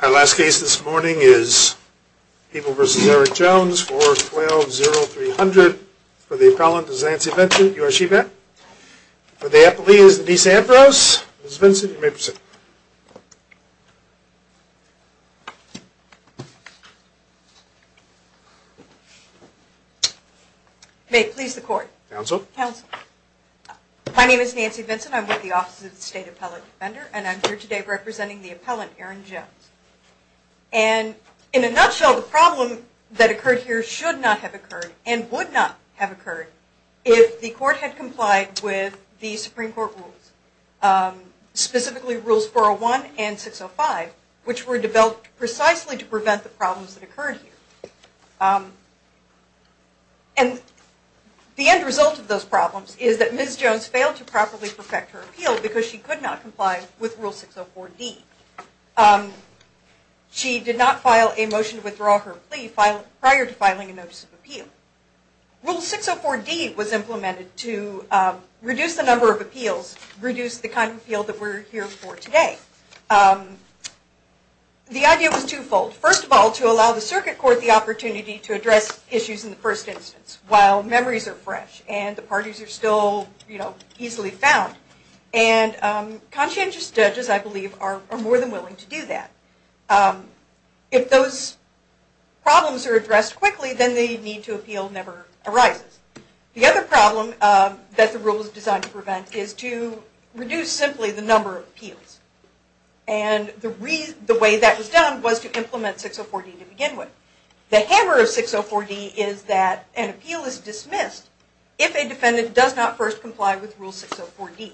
Our last case this morning is People v. Eric Jones, 412-0300. For the appellant is Nancy Vinson. You are she, Beth? For the appellee is Denise Ambrose. Ms. Vinson, you may proceed. May it please the court. Counsel. Counsel. My name is Nancy Vinson. I'm with the Office of the State Appellate Defender, and I'm here today representing the appellant, Erin Jones. And in a nutshell, the problem that occurred here should not have occurred and would not have occurred if the court had complied with the Supreme Court rules, specifically Rules 401 and 605, which were developed precisely to prevent the problems that occurred here. And the end result of those problems is that Ms. Jones failed to properly perfect her appeal because she could not comply with Rule 604D. She did not file a motion to withdraw her plea prior to filing a notice of appeal. Rule 604D was implemented to reduce the number of appeals, reduce the kind of appeal that we're here for today. The idea was twofold. First of all, to allow the circuit court the opportunity to address issues in the first instance while memories are fresh and the parties are still, you know, easily found. And conscientious judges, I believe, are more than willing to do that. If those problems are addressed quickly, then the need to appeal never arises. The other problem that the rule was designed to prevent is to reduce simply the number of appeals. And the way that was done was to implement 604D to begin with. The hammer of 604D is that an appeal is dismissed if a defendant does not first comply with Rule 604D.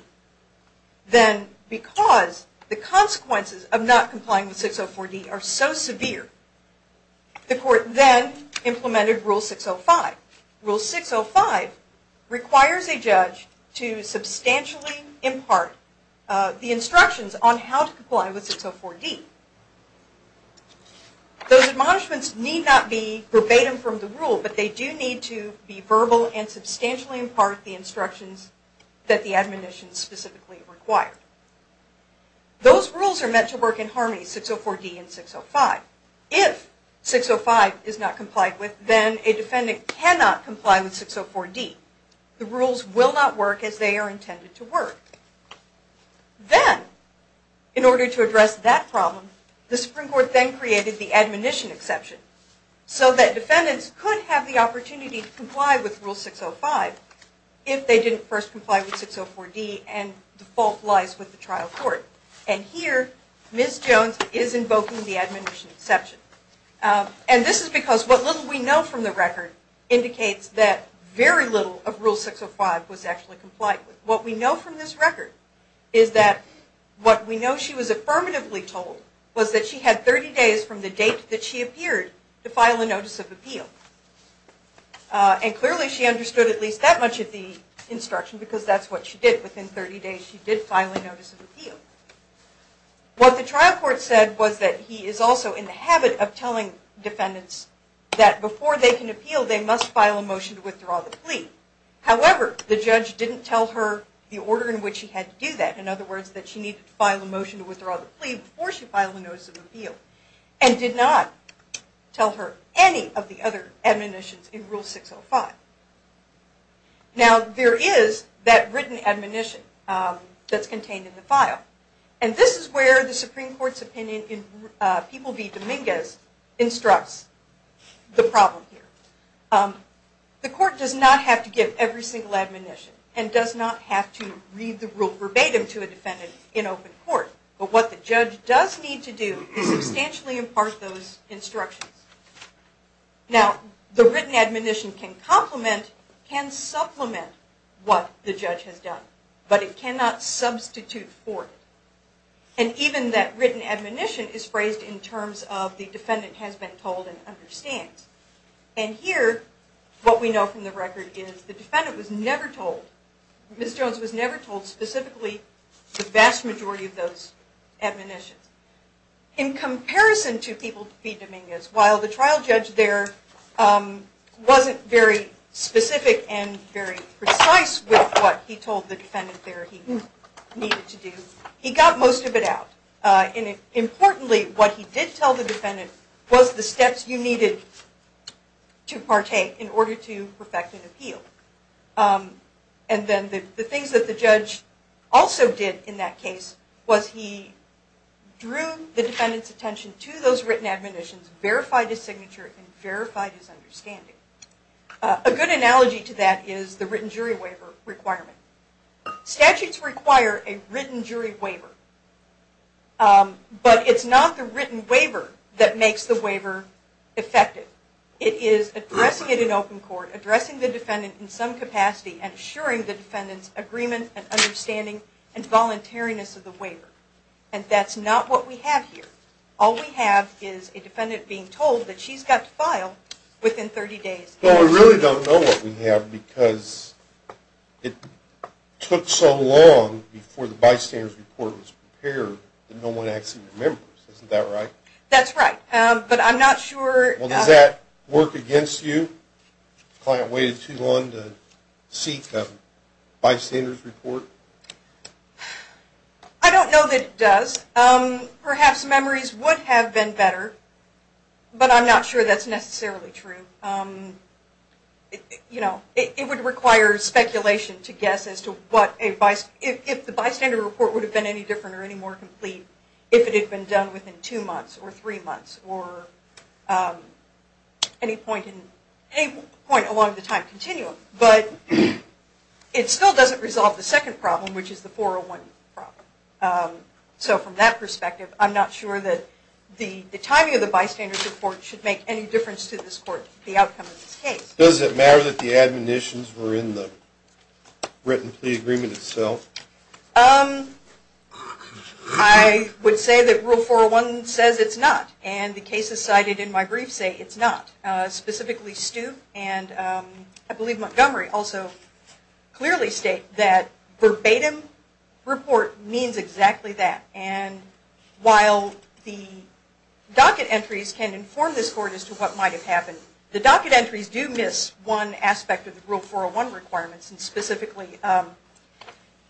Then because the consequences of not complying with 604D are so severe, the court then implemented Rule 605. Rule 605 requires a judge to substantially impart the instructions on how to comply with 604D. Those admonishments need not be verbatim from the rule, but they do need to be verbal and substantially impart the instructions that the admonitions specifically require. Those rules are meant to work in harmony, 604D and 605. If 605 is not complied with, then a defendant cannot comply with 604D. The rules will not work as they are intended to work. Then, in order to address that problem, the Supreme Court then created the admonition exception so that defendants could have the opportunity to comply with Rule 605 if they didn't first comply with 604D and the fault lies with the trial court. And here, Ms. Jones is invoking the admonition exception. And this is because what little we know from the record indicates that very little of Rule 605 was actually complied with. What we know from this record is that what we know she was affirmatively told was that she had 30 days from the date that she appeared to file a notice of appeal. And clearly, she understood at least that much of the instruction because that's what she did. Within 30 days, she did file a notice of appeal. What the trial court said was that he is also in the habit of telling defendants that before they can appeal, they must file a motion to withdraw the plea. However, the judge didn't tell her the order in which she had to do that. In other words, that she needed to file a motion to withdraw the plea before she filed a notice of appeal and did not tell her any of the other admonitions in Rule 605. Now, there is that written admonition that's required to file. And this is where the Supreme Court's opinion in People v. Dominguez instructs the problem here. The court does not have to give every single admonition and does not have to read the rule verbatim to a defendant in open court. But what the judge does need to do is substantially impart those instructions. Now, the written admonition can complement, can supplement what the judge has done. But it cannot substitute for it. And even that written admonition is phrased in terms of the defendant has been told and understands. And here, what we know from the record is the defendant was never told, Ms. Jones was never told specifically the vast majority of those admonitions. In comparison to People v. Dominguez, while the trial judge there wasn't very specific and very precise with what he told the defendant there he needed to do, he got most of it out. And importantly, what he did tell the defendant was the steps you needed to partake in order to perfect an appeal. And then the things that the judge also did in that case was he drew the defendant's written admonitions, verified his signature, and verified his understanding. A good analogy to that is the written jury waiver requirement. Statutes require a written jury waiver. But it's not the written waiver that makes the waiver effective. It is addressing it in open court, addressing the defendant in some capacity, and assuring the defendant's agreement and understanding and voluntariness of the waiver. And that's not what we have here. All we have is a defendant being told that she's got to file within 30 days. Well, we really don't know what we have because it took so long before the bystander's report was prepared that no one actually remembers. Isn't that right? That's right. But I'm not sure... Well, does that work against you? The client waited too long to seek the bystander's report? I don't know that it does. Perhaps memories would have been better, but I'm not sure that's necessarily true. It would require speculation to guess as to if the bystander's report would have been any different or any more complete if it had been done within two months or three months or any point along the time continuum. But it still doesn't resolve the second part of the problem, which is the 401 problem. So from that perspective, I'm not sure that the timing of the bystander's report should make any difference to this court, the outcome of this case. Does it matter that the admonitions were in the written plea agreement itself? I would say that Rule 401 says it's not, and the cases cited in my brief say it's not. Specifically Stu and I believe Montgomery also clearly state that verbatim report means exactly that. And while the docket entries can inform this court as to what might have happened, the docket entries do miss one aspect of the Rule 401 requirements, and specifically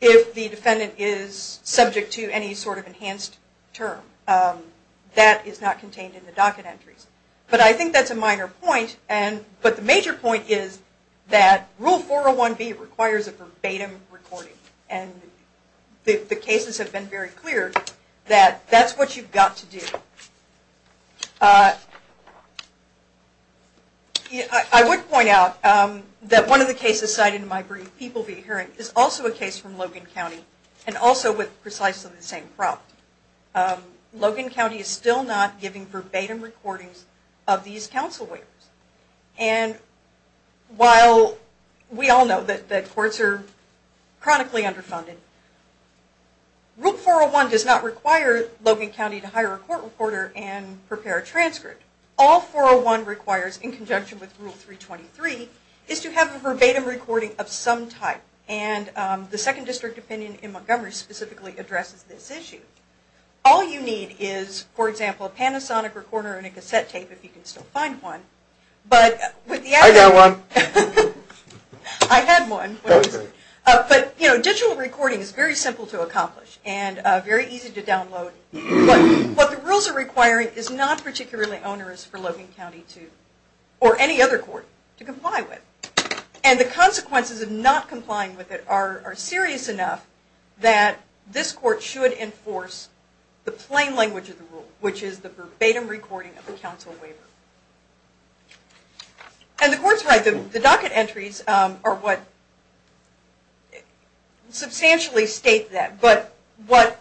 if the defendant is subject to any sort of enhanced term. That is not contained in the docket entries. But I think that's a minor point, but the major point is that Rule 401B requires a verbatim recording, and the cases have been very clear that that's what you've got to do. I would point out that one of the cases cited in my brief, People v. Herring, is also a case from Logan County and also with precisely the same problem. Logan County is still not giving verbatim recordings of these counsel waivers. And while we all know that courts are chronically underfunded, Rule 401 does not require Logan County to hire a court reporter and prepare a transcript. All Rule 401 requires in conjunction with Rule 323 is to have a verbatim recording of some type, and the second district opinion in Montgomery specifically addresses this issue. All you need is, for example, a Panasonic recorder and a cassette tape, if you can still find one. I've got one. I had one. But digital recording is very simple to accomplish and very easy to download. But what the rules are requiring is not particularly onerous for Logan County or any other court to comply with. And the consequences of not complying with it are serious enough that this court should enforce the plain language of the rule, which is the verbatim recording of the counsel waiver. And the court's right. The docket entries are what substantially state that. But what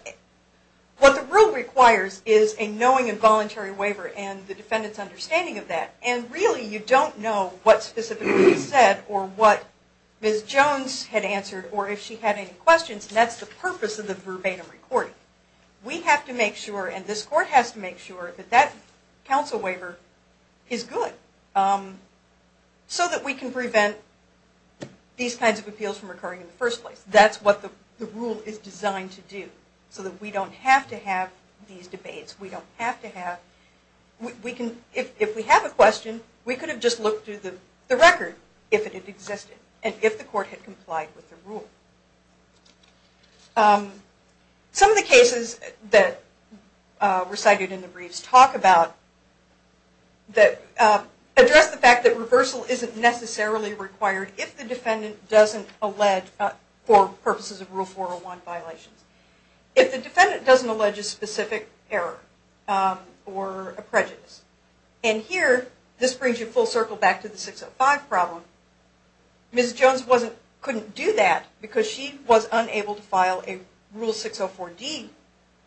the rule requires is a knowing and voluntary waiver and the defendant's understanding of that. And really you don't know what specifically is said or what Ms. Jones had answered or if she had any questions. And that's the purpose of the verbatim recording. We have to make sure, and this court has to make sure, that that counsel waiver is good so that we can prevent these kinds of appeals from occurring in the first place. That's what the rule is designed to do so that we don't have to have these debates. We don't have to have... If we have a question, we could have just looked through the record if it had existed and if the court had complied with the rule. Some of the cases that were cited in the briefs talk about... address the fact that reversal isn't necessarily required if the defendant doesn't allege, for purposes of Rule 401 violations, if the defendant doesn't allege a specific error or a prejudice. And here, this brings you full circle back to the 605 problem. Ms. Jones couldn't do that because she was unable to file a Rule 604D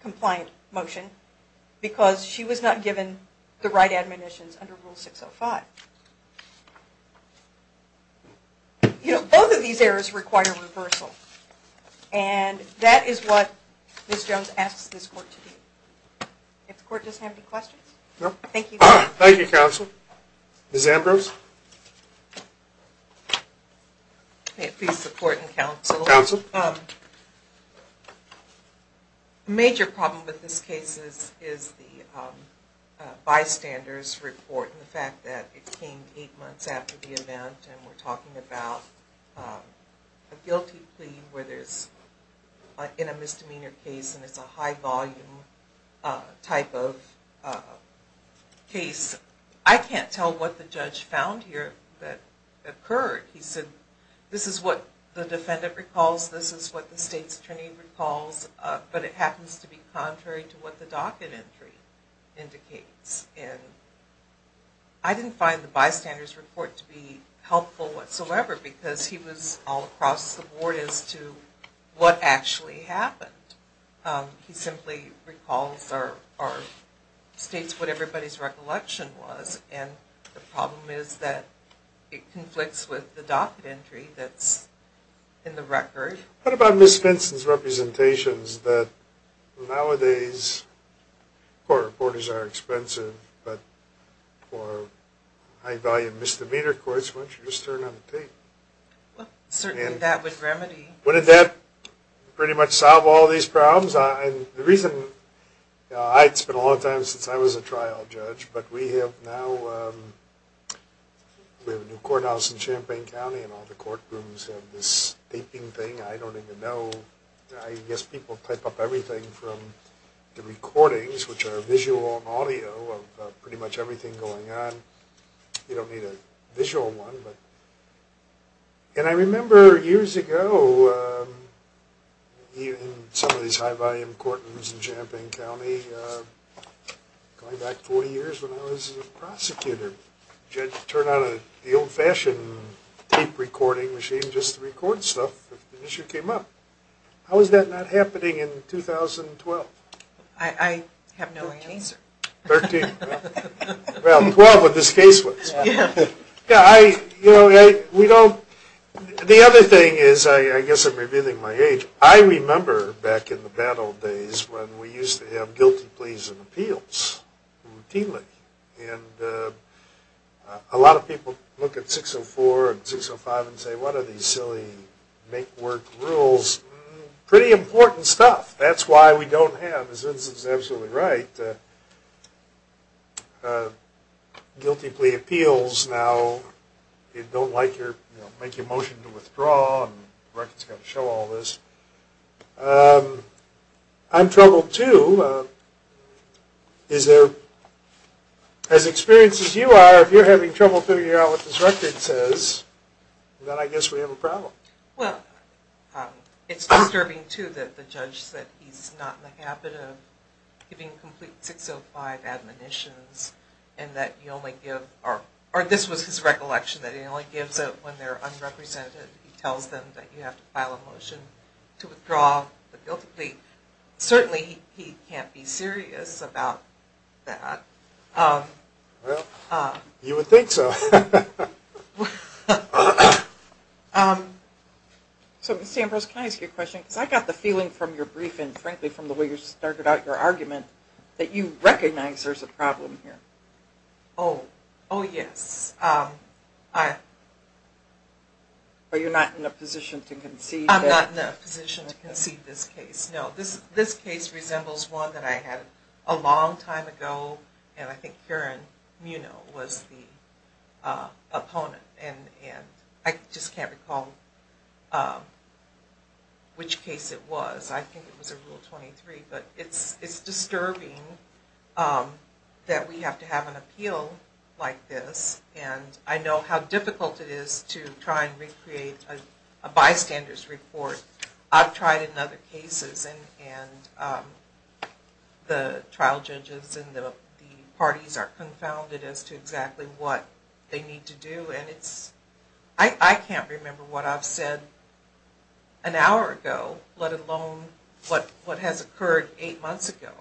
compliant motion because she was not given the right admonitions under Rule 605. You know, both of these errors require reversal. And that is what Ms. Jones asks this court to do. If the court does have any questions? No? Thank you. Thank you, Counsel. Ms. Ambrose? May it please the Court and Counsel? Counsel? A major problem with this case is the bystander's report and the fact that it came 8 months after the event and we're talking about a guilty plea where there's... in a misdemeanor case and it's a high volume type of case. I can't tell what the judge found here that occurred. He said, this is what the defendant recalls, this is what the state's attorney recalls, but it happens to be contrary to what the docket entry indicates. And I didn't find the bystander's report to be helpful whatsoever because he was all across the board as to what actually happened. He simply recalls or states what everybody's recollection was and the problem is that it conflicts with the docket entry that's in the record. What about Ms. Vinson's representations that nowadays court reporters are expensive, but for high volume misdemeanor courts, why don't you just turn on the tape? Certainly that would remedy... Wouldn't that pretty much solve all these problems? And the reason... it's been a long time since I was a trial judge, but we have now... we have a new courthouse in Champaign County and all the courtrooms have this taping thing. I don't even know... I guess people type up everything from the recordings, which are visual and audio of pretty much everything going on. You don't need a visual one, but... And I remember years ago in some of these high volume courtrooms in Champaign County, going back 40 years when I was a prosecutor, you had to turn on the old-fashioned tape recording machine just to record stuff if an issue came up. How is that not happening in 2012? I have no answer. 13. Well, 12 when this case was. The other thing is, I guess I'm revealing my age, I remember back in the bad old days when we used to have guilty pleas and appeals routinely. And a lot of people look at 604 and 605 and say, what are these silly make-work rules? Pretty important stuff. That's why we don't have, and Zinz is absolutely right, guilty plea appeals now, they don't like your motion to withdraw, and records have to show all this. I'm troubled too. As experienced as you are, if you're having trouble figuring out what this record says, then I guess we have a problem. Well, it's disturbing too that the judge said he's not in the habit of giving complete 605 admonitions, and that you only give, or this was his recollection, that he only gives it when they're unrepresented. He tells them that you have to file a motion to withdraw the guilty plea. Certainly he can't be serious about that. Well, you would think so. So, Ms. Ambrose, can I ask you a question? Because I got the feeling from your briefing, frankly, from the way you started out your argument, that you recognize there's a problem here. Oh, yes. Are you not in a position to concede that? I'm not in a position to concede this case, no. This case resembles one that I had a long time ago, and I think Karen Muno was the opponent. And I just can't recall which case it was. I think it was a Rule 23. But it's disturbing that we have to have an appeal like this. And I know how difficult it is to try and recreate a bystander's report. I've tried in other cases, and the trial judges and the parties are confounded as to exactly what they need to do. And I can't remember what I've said an hour ago, let alone what has occurred eight months ago.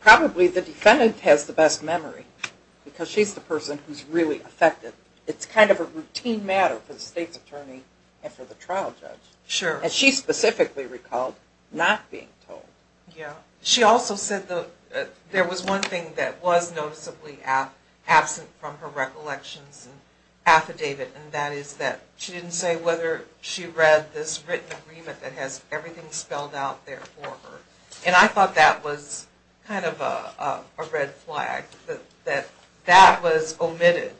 Probably the defendant has the best memory, because she's the person who's really affected. It's kind of a routine matter for the state's attorney and for the trial judge. Sure. And she specifically recalled not being told. Yeah. She also said there was one thing that was noticeably absent from her recollections and affidavit, and that is that she didn't say whether she read this written agreement that has everything spelled out there for her. And I thought that was kind of a red flag, that that was omitted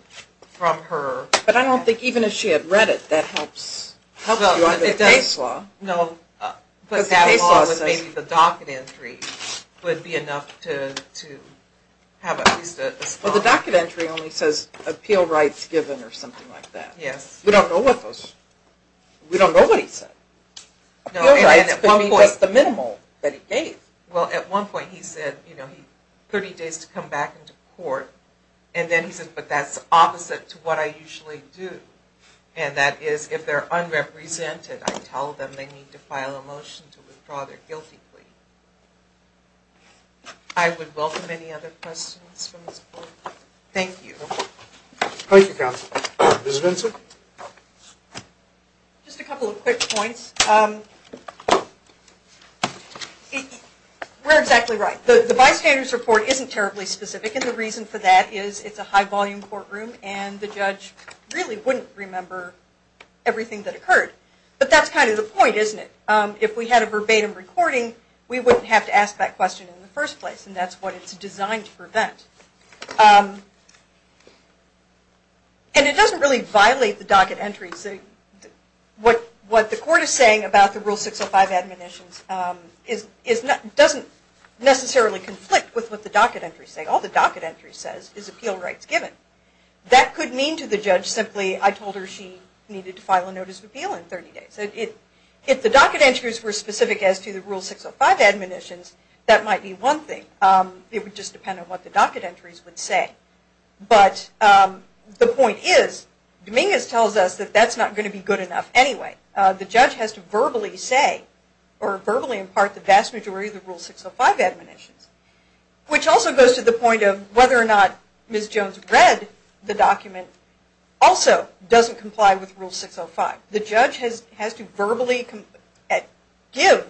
from her. But I don't think even if she had read it, that helps you under the case law. No, but that along with maybe the docket entry would be enough to have at least a response. Well, the docket entry only says appeal rights given or something like that. Yes. We don't know what those, we don't know what he said. No, and at one point. Appeal rights could be just the minimal that he gave. Well, at one point he said, you know, 30 days to come back into court. And then he said, but that's opposite to what I usually do. And that is if they're unrepresented, I tell them they need to file a motion to withdraw their guilty plea. I would welcome any other questions from this board. Thank you. Thank you, counsel. Ms. Vincent? Just a couple of quick points. We're exactly right. The bystander's report isn't terribly specific. And the reason for that is it's a high-volume courtroom. And the judge really wouldn't remember everything that occurred. But that's kind of the point, isn't it? If we had a verbatim recording, we wouldn't have to ask that question in the first place. And that's what it's designed to prevent. And it doesn't really violate the docket entries. What the court is saying is that the docket entries, what the court is saying about the Rule 605 admonitions doesn't necessarily conflict with what the docket entries say. All the docket entry says is appeal rights given. That could mean to the judge simply, I told her she needed to file a notice of appeal in 30 days. If the docket entries were specific as to the Rule 605 admonitions, that might be one thing. It would just depend on what the docket entries would say. But the point is, Dominguez tells us that that's not going to be good enough anyway. The judge has to verbally say, or verbally impart the vast majority of the Rule 605 admonitions. Which also goes to the point of whether or not Ms. Jones read the document also doesn't comply with Rule 605. The judge has to verbally give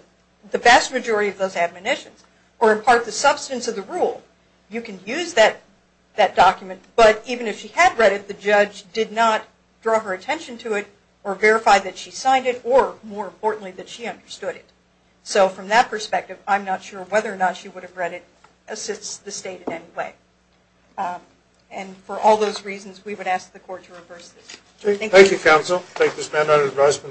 the vast majority of those admonitions or impart the substance of the Rule. You can use that document, but even if she had read it, the judge did not draw her attention to it or verify that she signed it or, more importantly, that she understood it. So from that perspective, I'm not sure whether or not she would have read it assists the state in any way. And for all those reasons, we would ask the court to reverse this. Thank you, counsel. I take this amendment as an advice from the recess.